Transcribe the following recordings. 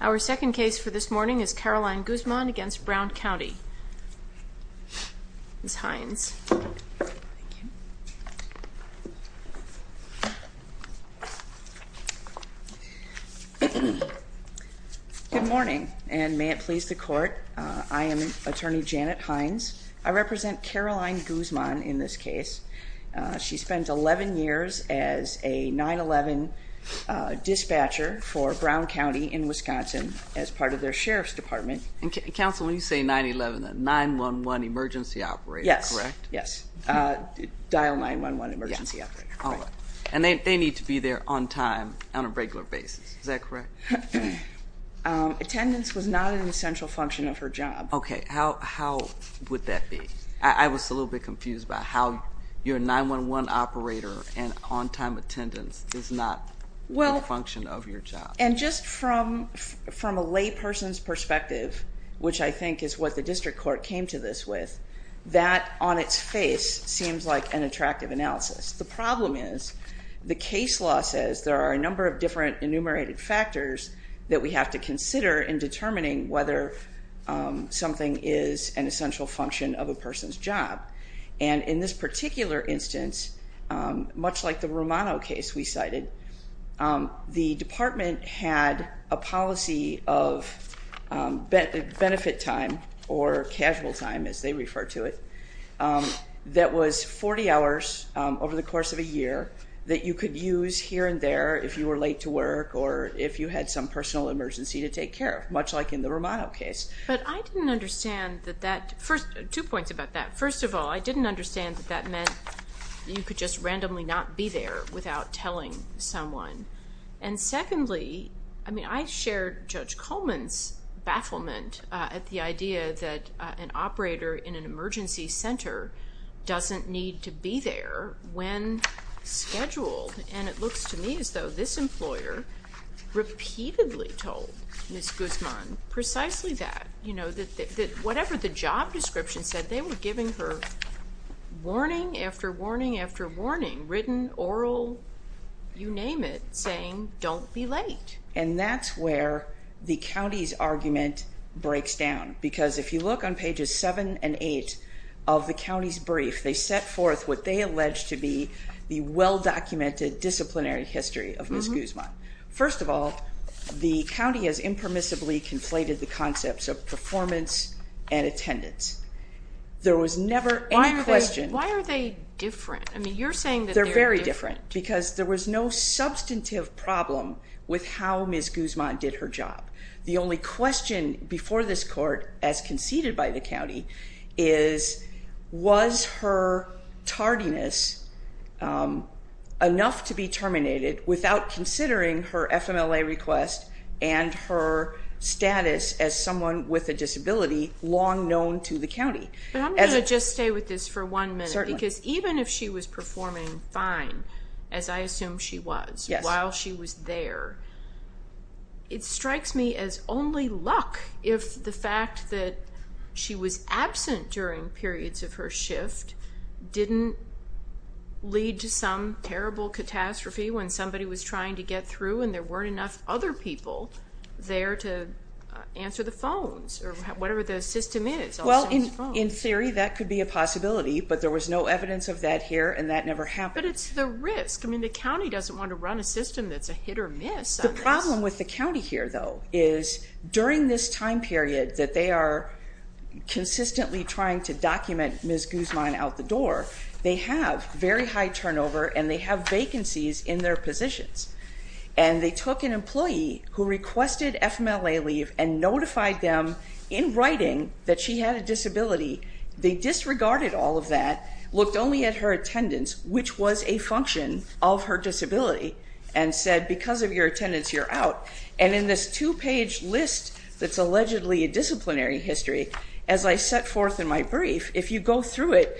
Our second case for this morning is Caroline Guzman v. Brown County, Ms. Hines. Good morning, and may it please the Court, I am Attorney Janet Hines. I represent Caroline Guzman in this case. She spent 11 years as a 9-11 dispatcher for Brown County in Wisconsin as part of their Sheriff's Department. Counsel, when you say 9-11, a 9-1-1 emergency operator, correct? Yes, yes. Dial 9-1-1 emergency operator. And they need to be there on time, on a regular basis, is that correct? Attendance was not an essential function of her job. Okay. How would that be? I was a little bit confused about how your 9-1-1 operator and on-time attendance is not a function of your job. And just from a layperson's perspective, which I think is what the district court came to this with, that on its face seems like an attractive analysis. The problem is the case law says there are a number of different enumerated factors that we have to consider in determining whether something is an essential function of a person's job. And in this particular instance, much like the Romano case we cited, the department had a policy of benefit time, or casual time as they refer to it, that was 40 hours over the course of a year that you could use here and there if you were late to work or if you had some personal emergency to take care of, much like in the Romano case. But I didn't understand that that, two points about that. First of all, I didn't understand that that meant you could just randomly not be there without telling someone. And secondly, I mean, I shared Judge Coleman's bafflement at the idea that an operator in an emergency center doesn't need to be there when scheduled. And it looks to me as though this employer repeatedly told Ms. Guzman precisely that. You know, that whatever the job description said, they were giving her warning after warning after warning, written, oral, you name it, saying, don't be late. And that's where the county's argument breaks down. Because if you look on pages 7 and 8 of the county's brief, they set forth what they allege to be the well-documented disciplinary history of Ms. Guzman. First of all, the county has impermissibly conflated the concepts of performance and attendance. There was never any question. Why are they different? I mean, you're saying that they're different. They're very different because there was no substantive problem with how Ms. Guzman did her job. The only question before this court as conceded by the county is, was her tardiness enough to be terminated without considering her FMLA request and her status as someone with a disability long known to the county? But I'm going to just stay with this for one minute. Certainly. Because even if she was performing fine, as I assume she was, while she was there, it strikes me as only luck if the fact that she was absent during periods of her shift didn't lead to some terrible catastrophe when somebody was trying to get through and there weren't enough other people there to answer the phones or whatever the system is. Well, in theory, that could be a possibility. But there was no evidence of that here, and that never happened. But it's the risk. I mean, the county doesn't want to run a system that's a hit or miss on this. The problem with the county here, though, is during this time period that they are consistently trying to document Ms. Guzman out the door, they have very high turnover and they have vacancies in their positions. And they took an employee who requested FMLA leave and notified them in writing that she had a disability. They disregarded all of that, looked only at her attendance, which was a function of her disability, and said, because of your attendance, you're out. And in this two-page list that's allegedly a disciplinary history, as I set forth in my brief, if you go through it,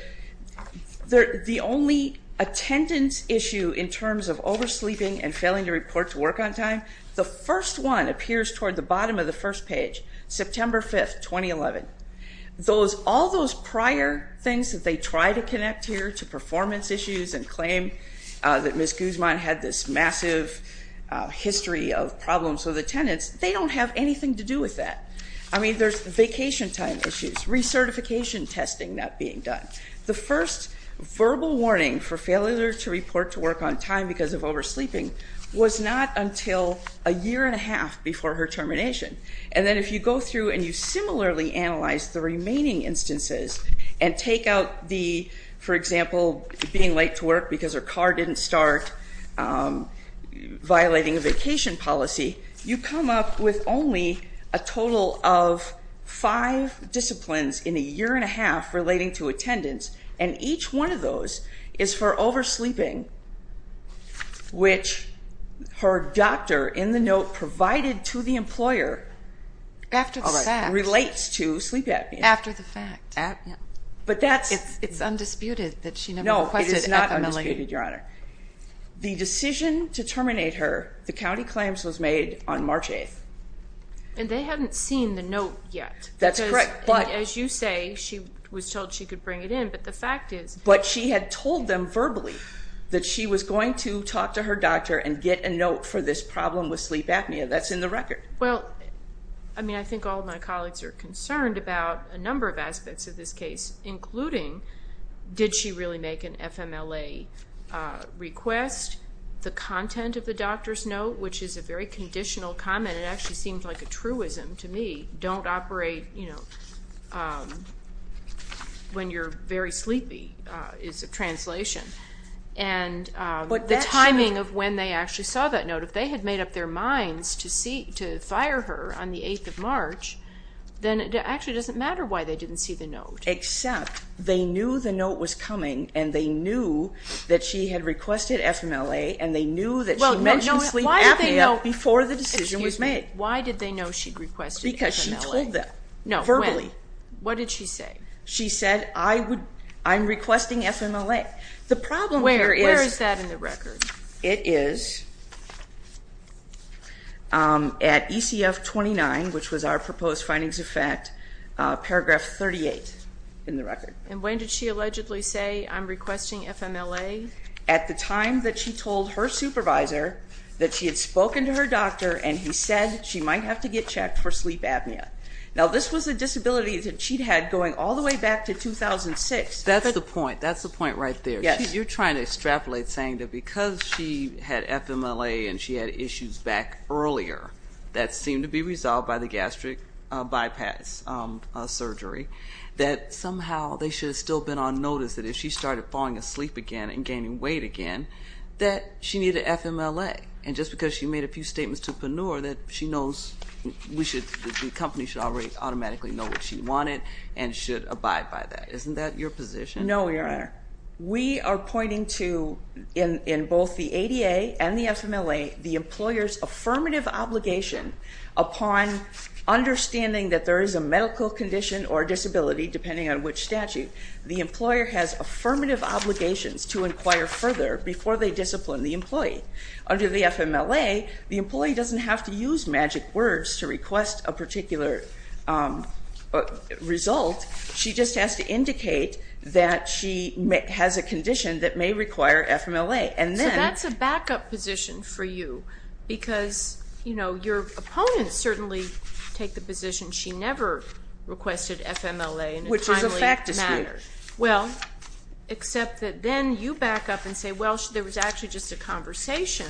the only attendance issue in terms of oversleeping and failing to report to work on time, the first one appears toward the bottom of the first page, September 5, 2011. All those prior things that they try to connect here to performance issues and claim that Ms. Guzman had this massive history of problems with attendance, they don't have anything to do with that. I mean, there's vacation time issues, recertification testing not being done. The first verbal warning for failure to report to work on time because of oversleeping was not until a year and a half before her termination. And then if you go through and you similarly analyze the remaining instances and take out the, for example, being late to work because her car didn't start, violating a vacation policy, you come up with only a total of five disciplines in a year and a half relating to attendance, and each one of those is for oversleeping, which her doctor in the note provided to the employer relates to sleep apnea. After the fact. But that's... It's undisputed that she never requested FMLA. No, it is not undisputed, Your Honor. The decision to terminate her, the county claims, was made on March 8th. And they hadn't seen the note yet. That's correct. As you say, she was told she could bring it in, but the fact is... and get a note for this problem with sleep apnea. That's in the record. Well, I mean, I think all of my colleagues are concerned about a number of aspects of this case, including did she really make an FMLA request, the content of the doctor's note, which is a very conditional comment. It actually seems like a truism to me. Don't operate, you know, when you're very sleepy is a translation. And the timing of when they actually saw that note, if they had made up their minds to fire her on the 8th of March, then it actually doesn't matter why they didn't see the note. Except they knew the note was coming and they knew that she had requested FMLA and they knew that she mentioned sleep apnea before the decision was made. Why did they know she'd requested FMLA? Because she told them. Verbally. What did she say? She said, I'm requesting FMLA. Where is that in the record? It is at ECF 29, which was our proposed findings of fact, paragraph 38 in the record. And when did she allegedly say, I'm requesting FMLA? At the time that she told her supervisor that she had spoken to her doctor and he said she might have to get checked for sleep apnea. Now, this was a disability that she'd had going all the way back to 2006. That's the point. That's the point right there. You're trying to extrapolate saying that because she had FMLA and she had issues back earlier that seemed to be resolved by the gastric bypass surgery, that somehow they should have still been on notice that if she started falling asleep again and gaining weight again, that she needed FMLA. And just because she made a few statements to Panur, that the company should already automatically know what she wanted and should abide by that. Isn't that your position? No, Your Honor. We are pointing to, in both the ADA and the FMLA, the employer's affirmative obligation upon understanding that there is a medical condition or disability, depending on which statute, the employer has affirmative obligations to inquire further before they discipline the employee. Under the FMLA, the employee doesn't have to use magic words to request a particular result. She just has to indicate that she has a condition that may require FMLA. So that's a backup position for you because, you know, your opponents certainly take the position she never requested FMLA in a timely manner. Which is a fact dispute. Well, except that then you back up and say, well, there was actually just a conversation,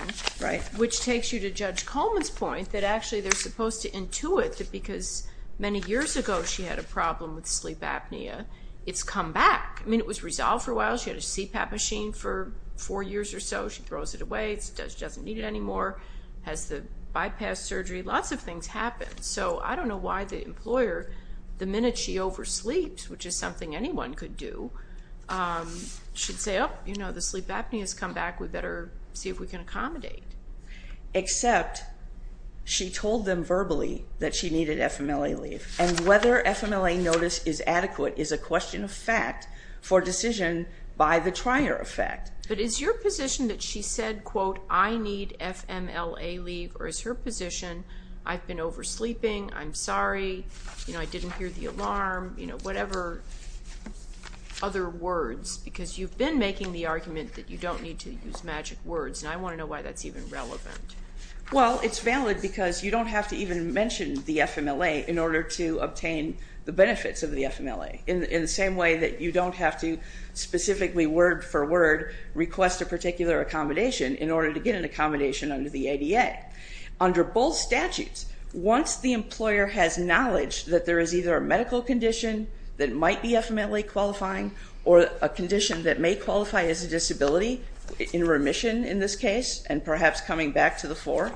which takes you to Judge Coleman's point that actually they're supposed to intuit that because many years ago she had a problem with sleep apnea, it's come back. I mean, it was resolved for a while. She had a CPAP machine for four years or so. She throws it away. She doesn't need it anymore. Has the bypass surgery. Lots of things happen. So I don't know why the employer, the minute she oversleeps, which is something anyone could do, should say, oh, you know, the sleep apnea has come back. We better see if we can accommodate. Except she told them verbally that she needed FMLA leave. And whether FMLA notice is adequate is a question of fact for decision by the trier of fact. But is your position that she said, quote, I need FMLA leave, or is her position I've been oversleeping, I'm sorry, you know, I didn't hear the alarm, you know, whatever other words. Because you've been making the argument that you don't need to use magic words. And I want to know why that's even relevant. Well, it's valid because you don't have to even mention the FMLA in order to obtain the benefits of the FMLA. In the same way that you don't have to specifically word for word request a particular accommodation in order to get an accommodation under the ADA. Under both statutes, once the employer has knowledge that there is either a medical condition that might be FMLA qualifying or a condition that may qualify as a disability in remission in this case, and perhaps coming back to the fore,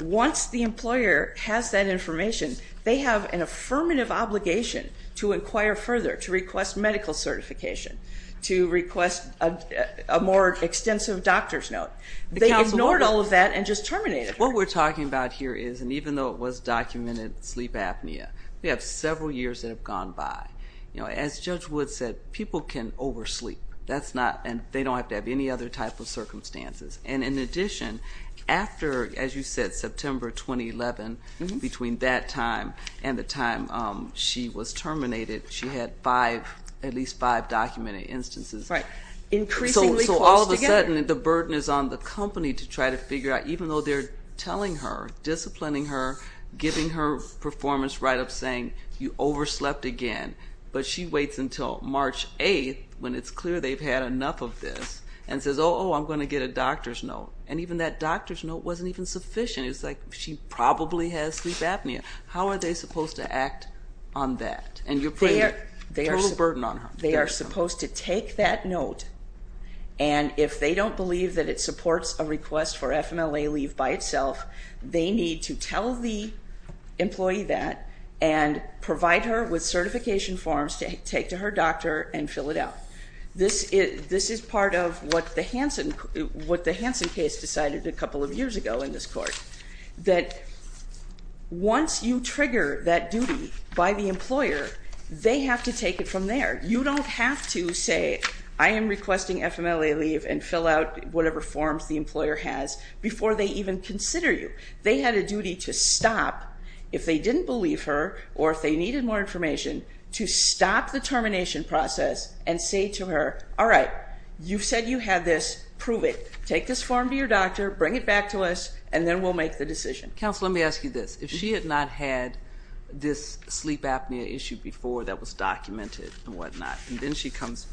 once the employer has that information, they have an affirmative obligation to inquire further, to request medical certification, to request a more extensive doctor's note. They ignored all of that and just terminated her. What we're talking about here is, and even though it was documented sleep apnea, we have several years that have gone by. As Judge Wood said, people can oversleep. They don't have to have any other type of circumstances. And in addition, after, as you said, September 2011, between that time and the time she was terminated, she had at least five documented instances. Increasingly close together. So all of a sudden the burden is on the company to try to figure out, even though they're telling her, disciplining her, giving her performance write-ups saying, you overslept again, but she waits until March 8th when it's clear they've had enough of this and says, oh, oh, I'm going to get a doctor's note. And even that doctor's note wasn't even sufficient. It was like, she probably has sleep apnea. How are they supposed to act on that? And you're putting a total burden on her. They are supposed to take that note, and if they don't believe that it supports a request for FMLA leave by itself, they need to tell the employee that and provide her with certification forms to take to her doctor and fill it out. This is part of what the Hansen case decided a couple of years ago in this court, that once you trigger that duty by the employer, they have to take it from there. You don't have to say, I am requesting FMLA leave and fill out whatever forms the employer has before they even consider you. They had a duty to stop, if they didn't believe her or if they needed more information, to stop the termination process and say to her, all right, you said you had this. Prove it. Take this form to your doctor, bring it back to us, and then we'll make the decision. Counsel, let me ask you this. If she had not had this sleep apnea issue before that was documented and whatnot, and then she comes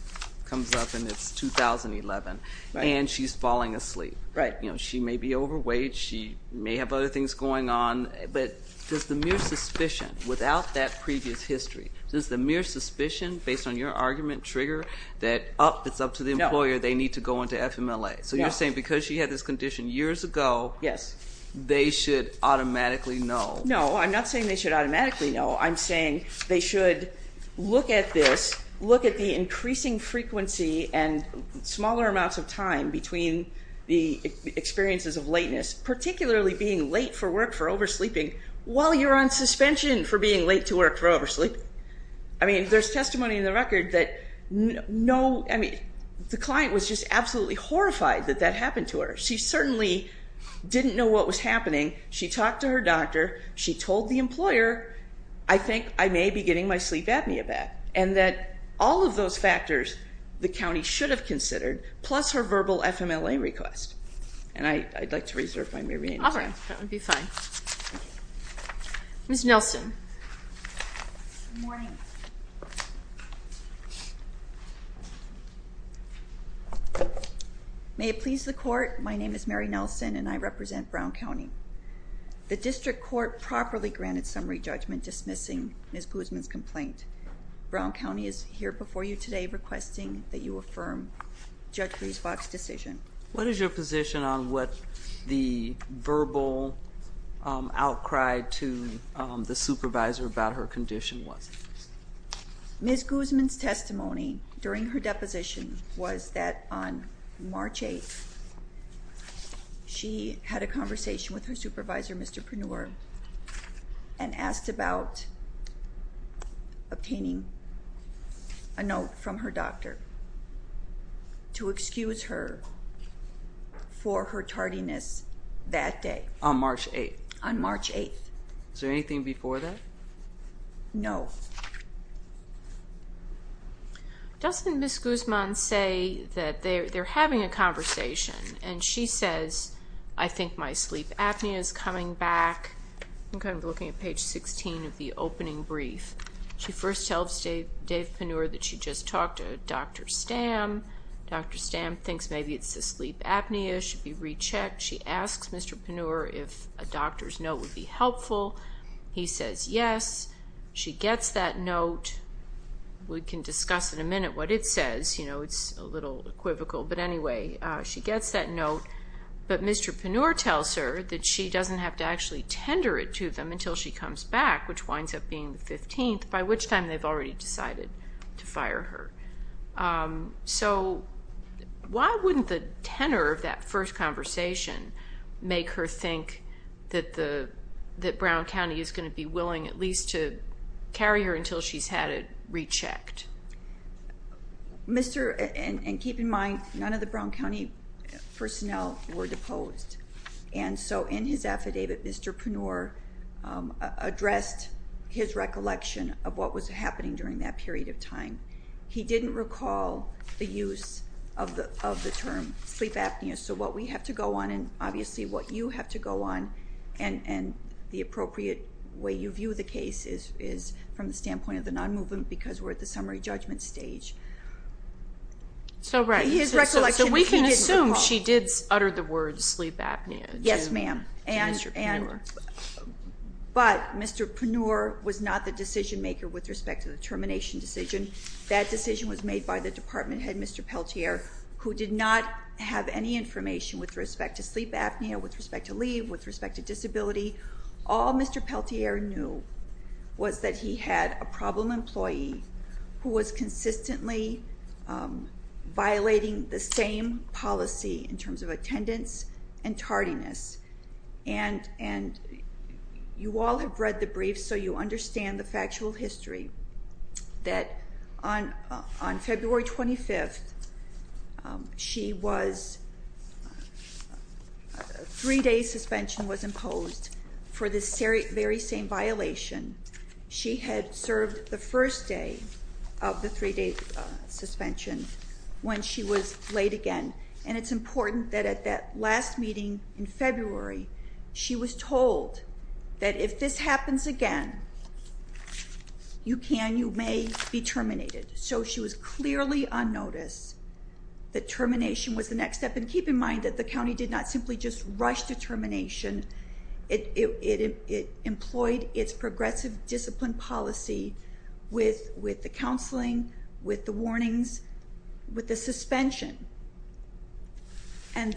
up and it's 2011, and she's falling asleep. Right. She may be overweight, she may have other things going on, but does the mere suspicion without that previous history, does the mere suspicion based on your argument trigger that it's up to the employer, they need to go into FMLA? So you're saying because she had this condition years ago, they should automatically know. No, I'm not saying they should automatically know. I'm saying they should look at this, look at the increasing frequency and smaller amounts of time between the experiences of lateness, particularly being late for work for oversleeping, while you're on suspension for being late to work for oversleeping. I mean, there's testimony in the record that no, I mean, the client was just absolutely horrified that that happened to her. She certainly didn't know what was happening. She talked to her doctor. She told the employer, I think I may be getting my sleep apnea back, and that all of those factors the county should have considered, plus her verbal FMLA request. And I'd like to reserve my remaining time. All right, that would be fine. Ms. Nelson. Good morning. May it please the court, my name is Mary Nelson and I represent Brown County. Brown County is here before you today requesting that you affirm Judge Riesbach's decision. What is your position on what the verbal outcry to the supervisor about her condition was? Ms. Guzman's testimony during her deposition was that on March 8th, she had a conversation with her supervisor, Mr. Purnor, and asked about obtaining a note from her doctor to excuse her for her tardiness that day. On March 8th? On March 8th. Is there anything before that? No. Doesn't Ms. Guzman say that they're having a conversation, and she says, I think my sleep apnea is coming back. I'm kind of looking at page 16 of the opening brief. She first tells Dave Purnor that she just talked to Dr. Stamm. Dr. Stamm thinks maybe it's the sleep apnea, should be rechecked. She asks Mr. Purnor if a doctor's note would be helpful. He says yes. She gets that note. We can discuss in a minute what it says. It's a little equivocal. But anyway, she gets that note. But Mr. Purnor tells her that she doesn't have to actually tender it to them until she comes back, which winds up being the 15th, by which time they've already decided to fire her. So why wouldn't the tenor of that first conversation make her think that Brown County is going to be to carry her until she's had it rechecked? And keep in mind, none of the Brown County personnel were deposed. And so in his affidavit, Mr. Purnor addressed his recollection of what was happening during that period of time. He didn't recall the use of the term sleep apnea. So what we have to go on, and obviously what you have to go on, and the appropriate way you view the case is from the standpoint of the non-movement because we're at the summary judgment stage. So we can assume she did utter the word sleep apnea to Mr. Purnor. Yes, ma'am. But Mr. Purnor was not the decision-maker with respect to the termination decision. That decision was made by the department head, Mr. Peltier, who did not have any information with respect to sleep apnea, with respect to leave, with respect to disability. All Mr. Peltier knew was that he had a problem employee who was consistently violating the same policy in terms of attendance and tardiness. And you all have read the brief, so you understand the factual history that on February 25th, a three-day suspension was imposed for this very same violation. She had served the first day of the three-day suspension when she was late again. And it's important that at that last meeting in February, she was told that if this happens again, you can, you may be terminated. So she was clearly on notice that termination was the next step. And keep in mind that the county did not simply just rush to termination. It employed its progressive discipline policy with the counseling, with the warnings, with the suspension. And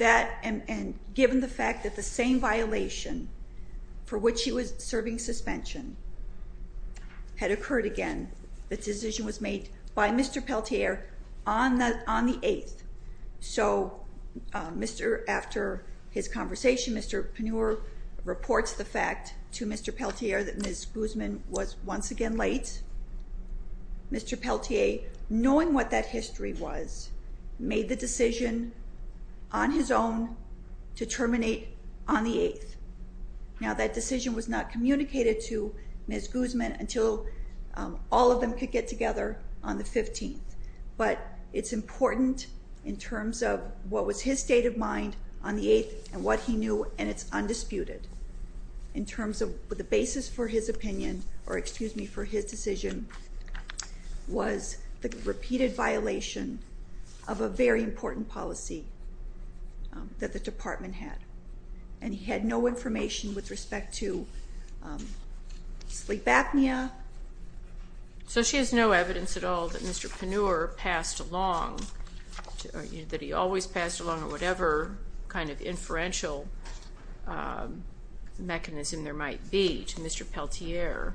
given the fact that the same violation for which she was serving suspension had occurred again, the decision was made by Mr. Peltier on the 8th. So after his conversation, Mr. Pennure reports the fact to Mr. Peltier that Ms. Guzman was once again late. Mr. Peltier, knowing what that history was, made the decision on his own to terminate on the 8th. Now that decision was not communicated to Ms. Guzman until all of them could get together on the 15th. But it's important in terms of what was his state of mind on the 8th and what he knew, and it's undisputed. In terms of the basis for his opinion, or excuse me, for his decision, was the repeated violation of a very important policy that the department had. And he had no information with respect to sleep apnea. So she has no evidence at all that Mr. Pennure passed along, that he always passed along, or whatever kind of inferential mechanism there might be to Mr. Peltier,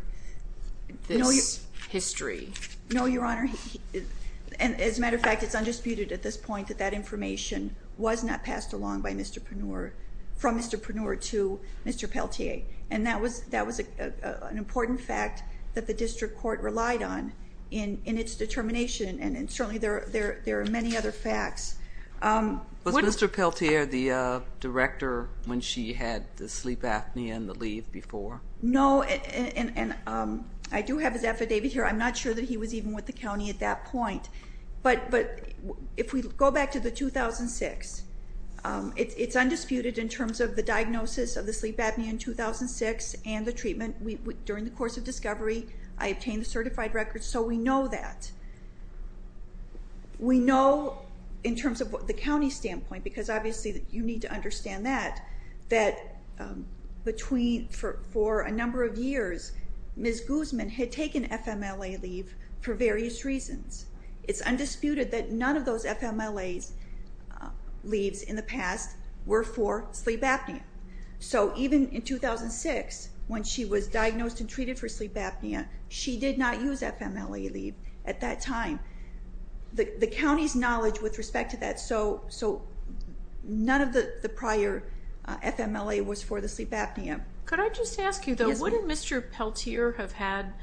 this history. No, Your Honor. And as a matter of fact, it's undisputed at this point that that information was not passed along by Mr. Pennure, from Mr. Pennure to Mr. Peltier. And that was an important fact that the district court relied on in its determination, and certainly there are many other facts. Was Mr. Peltier the director when she had the sleep apnea and the leave before? No, and I do have his affidavit here. I'm not sure that he was even with the county at that point. But if we go back to the 2006, it's undisputed in terms of the diagnosis of the sleep apnea in 2006 and the treatment. During the course of discovery, I obtained the certified records, so we know that. We know in terms of the county standpoint, because obviously you need to understand that, that for a number of years, Ms. Guzman had taken FMLA leave for various reasons. It's undisputed that none of those FMLA leaves in the past were for sleep apnea. So even in 2006, when she was diagnosed and treated for sleep apnea, she did not use FMLA leave at that time. The county's knowledge with respect to that, so none of the prior FMLA was for the sleep apnea. Could I just ask you though, wouldn't Mr. Peltier have had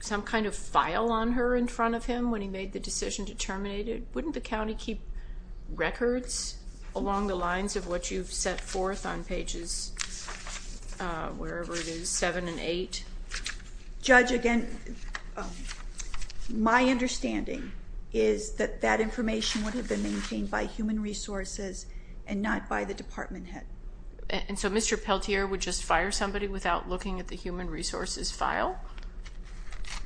some kind of file on her in front of him when he made the decision to terminate it? Wouldn't the county keep records along the lines of what you've set forth on pages 7 and 8? Judge, again, my understanding is that that information would have been maintained by Human Resources and not by the department head. And so Mr. Peltier would just fire somebody without looking at the Human Resources file?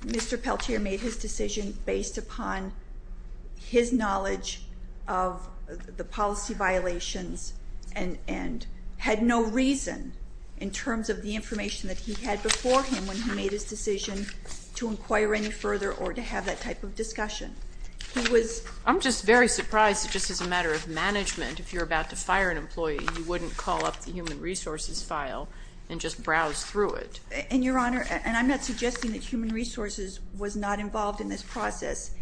Mr. Peltier made his decision based upon his knowledge of the policy violations and had no reason in terms of the information that he had before him when he made his decision to inquire any further or to have that type of discussion. I'm just very surprised that just as a matter of management, if you're about to fire an employee, you wouldn't call up the Human Resources file and just browse through it. And Your Honor, and I'm not suggesting that Human Resources was not involved in this process.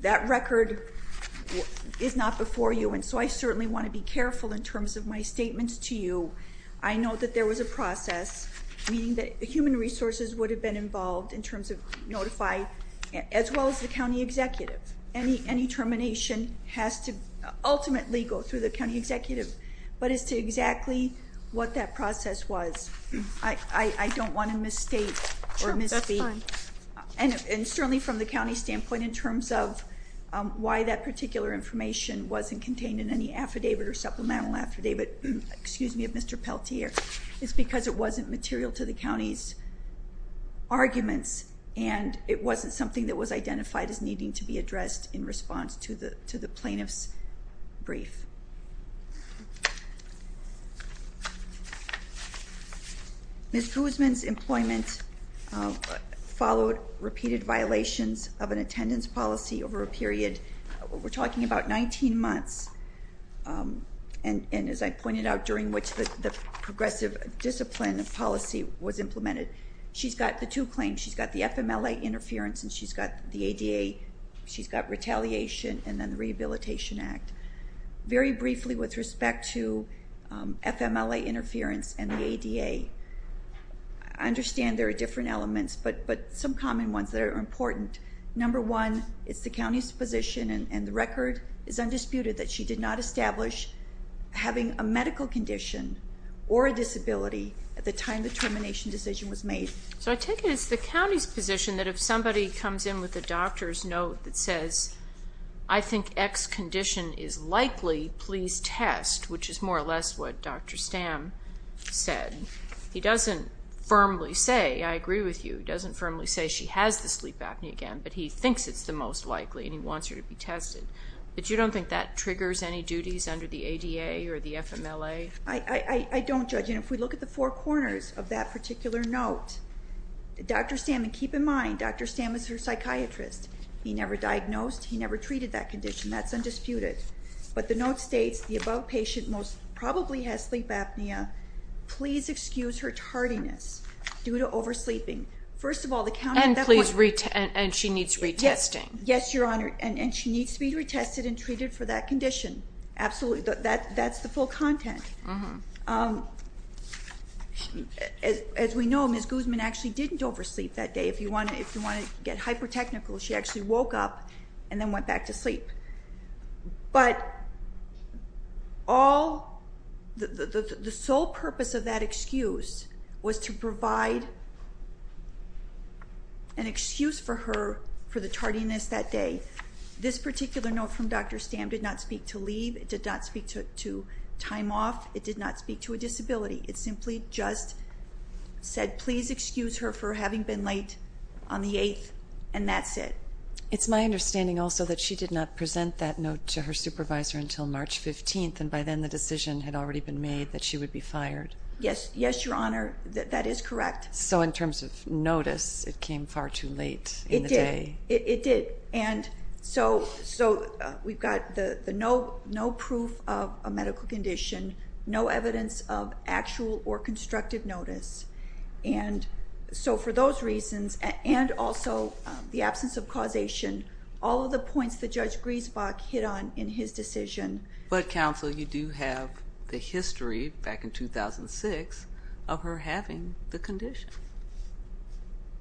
That record is not before you, and so I certainly want to be careful in terms of my statements to you. I know that there was a process, meaning that Human Resources would have been involved in terms of notify, as well as the county executive. Any termination has to ultimately go through the county executive. But as to exactly what that process was, I don't want to misstate or misspeak. And certainly from the county standpoint in terms of why that particular information wasn't contained in any affidavit or supplemental affidavit. Excuse me, of Mr. Peltier. It's because it wasn't material to the county's arguments, and it wasn't something that was identified as needing to be addressed in response to the plaintiff's brief. Ms. Guzman's employment followed repeated violations of an attendance policy over a period. We're talking about 19 months, and as I pointed out, during which the progressive discipline of policy was implemented. She's got the two claims. She's got the FMLA interference, and she's got the ADA. She's got retaliation and then the Rehabilitation Act. Very briefly with respect to FMLA interference and the ADA, I understand there are different elements, but some common ones that are important. Number one, it's the county's position, and the record is undisputed, that she did not establish having a medical condition or a disability at the time the termination decision was made. So I take it it's the county's position that if somebody comes in with a doctor's note that says, I think X condition is likely. Please test, which is more or less what Dr. Stamm said. He doesn't firmly say, I agree with you, he doesn't firmly say she has the sleep apnea again, but he thinks it's the most likely, and he wants her to be tested. But you don't think that triggers any duties under the ADA or the FMLA? I don't, Judge, and if we look at the four corners of that particular note, Dr. Stamm, and keep in mind, Dr. Stamm is her psychiatrist. He never diagnosed, he never treated that condition, that's undisputed. But the note states, the above patient most probably has sleep apnea. Please excuse her tardiness due to oversleeping. First of all, the county... And please retest, and she needs retesting. Yes, Your Honor, and she needs to be retested and treated for that condition. Absolutely, that's the full content. As we know, Ms. Guzman actually didn't oversleep that day. If you want to get hyper-technical, she actually woke up and then went back to sleep. But the sole purpose of that excuse was to provide an excuse for her for the tardiness that day. This particular note from Dr. Stamm did not speak to leave, it did not speak to time off, it did not speak to a disability. It simply just said, please excuse her for having been late on the 8th, and that's it. It's my understanding also that she did not present that note to her supervisor until March 15th, and by then the decision had already been made that she would be fired. Yes, Your Honor, that is correct. So in terms of notice, it came far too late in the day. It did, and so we've got no proof of a medical condition, no evidence of actual or constructive notice. And so for those reasons, and also the absence of causation, all of the points that Judge Griesbach hit on in his decision. But, counsel, you do have the history back in 2006 of her having the condition.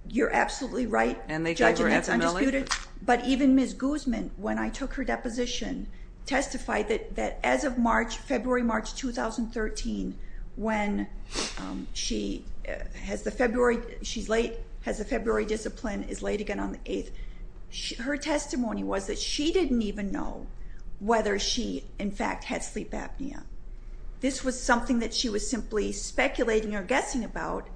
You're absolutely right, Judge, and it's undisputed. But even Ms. Guzman, when I took her deposition, testified that as of February, March 2013, when she has the February discipline, is late again on the 8th, her testimony was that she didn't even know whether she, in fact, had sleep apnea. This was something that she was simply speculating or guessing about.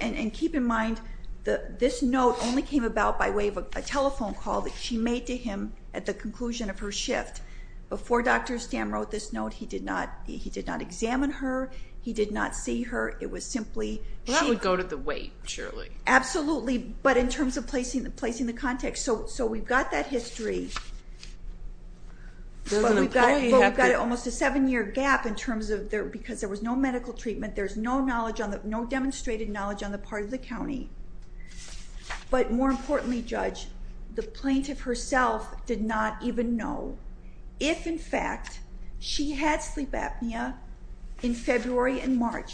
And keep in mind, this note only came about by way of a telephone call that she made to him at the conclusion of her shift. Before Dr. Stamm wrote this note, he did not examine her. He did not see her. It was simply... Well, that would go to the weight, surely. Absolutely, but in terms of placing the context. So we've got that history. But we've got almost a seven-year gap because there was no medical treatment, there's no demonstrated knowledge on the part of the county. But more importantly, Judge, the plaintiff herself did not even know if, in fact, she had sleep apnea in February and March.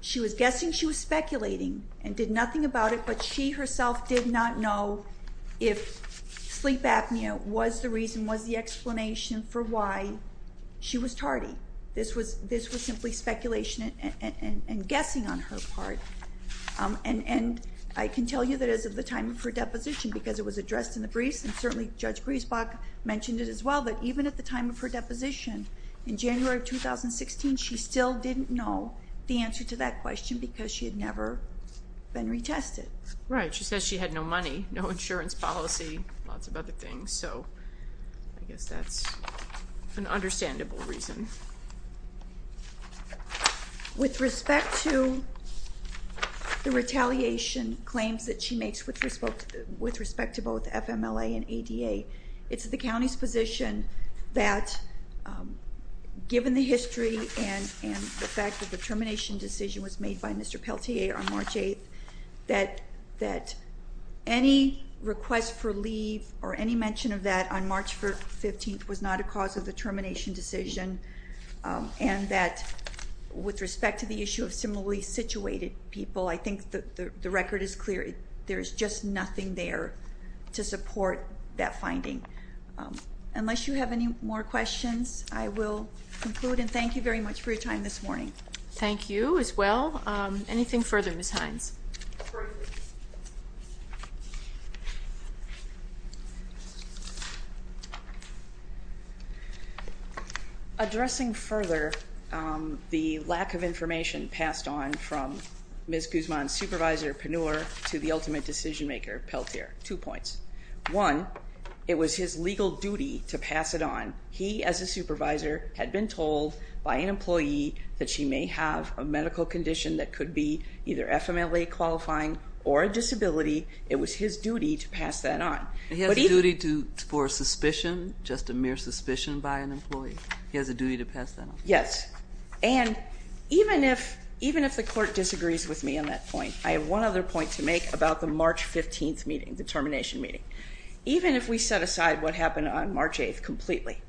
She was guessing, she was speculating, and did nothing about it, but she herself did not know if sleep apnea was the reason, was the explanation for why she was tardy. This was simply speculation and guessing on her part. And I can tell you that as of the time of her deposition, because it was addressed in the briefs, and certainly Judge Griesbach mentioned it as well, that even at the time of her deposition, in January of 2016, she still didn't know the answer to that question because she had never been retested. Right. She says she had no money, no insurance policy, lots of other things. So I guess that's an understandable reason. With respect to the retaliation claims that she makes with respect to both FMLA and ADA, it's the county's position that given the history and the fact that the termination decision was made by Mr. Pelletier on March 8th, that any request for leave or any mention of that on March 15th was not a cause of the termination decision, and that with respect to the issue of similarly situated people, I think the record is clear. There's just nothing there to support that finding. Unless you have any more questions, I will conclude, and thank you very much for your time this morning. Thank you as well. Anything further, Ms. Hines? The floor is yours. Addressing further the lack of information passed on from Ms. Guzman's supervisor, Penur, to the ultimate decision maker, Pelletier, two points. One, it was his legal duty to pass it on. He, as a supervisor, had been told by an employee that she may have a medical condition that could be either FMLA qualifying or a disability. It was his duty to pass that on. He has a duty for suspicion, just a mere suspicion by an employee. He has a duty to pass that on. Yes, and even if the court disagrees with me on that point, I have one other point to make about the March 15th meeting, the termination meeting. Even if we set aside what happened on March 8th completely,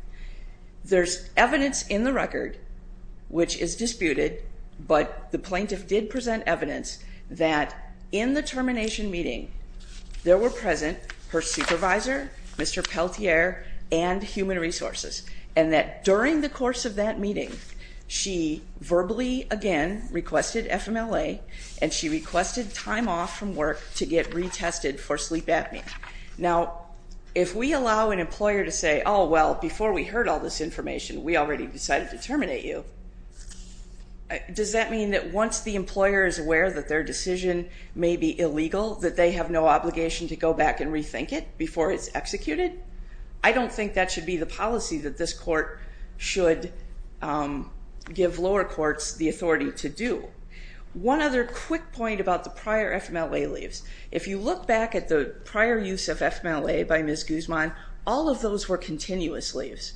there's evidence in the record which is disputed, but the plaintiff did present evidence that in the termination meeting there were present her supervisor, Mr. Pelletier, and human resources, and that during the course of that meeting, she verbally, again, requested FMLA, and she requested time off from work to get retested for sleep apnea. Now, if we allow an employer to say, oh, well, before we heard all this information, we already decided to terminate you, does that mean that once the employer is aware that their decision may be illegal, that they have no obligation to go back and rethink it before it's executed? I don't think that should be the policy that this court should give lower courts the authority to do. One other quick point about the prior FMLA leaves. If you look back at the prior use of FMLA by Ms. Guzman, all of those were continuous leaves,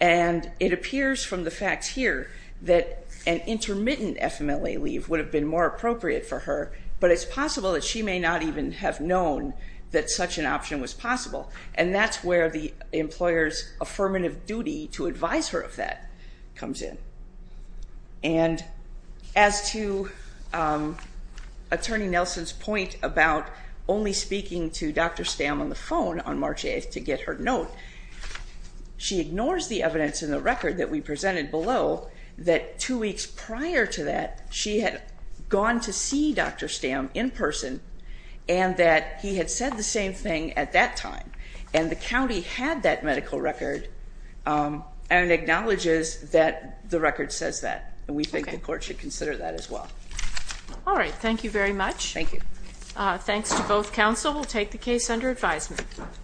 and it appears from the facts here that an intermittent FMLA leave would have been more appropriate for her, but it's possible that she may not even have known that such an option was possible, and that's where the employer's affirmative duty to advise her of that comes in. And as to Attorney Nelson's point about only speaking to Dr. Stamm on the phone on March 8th to get her note, she ignores the evidence in the record that we presented below that two weeks prior to that, she had gone to see Dr. Stamm in person and that he had said the same thing at that time, and the county had that medical record and acknowledges that the record says that, and we think the court should consider that as well. All right, thank you very much. Thank you. Thanks to both counsel. We'll take the case under advisement.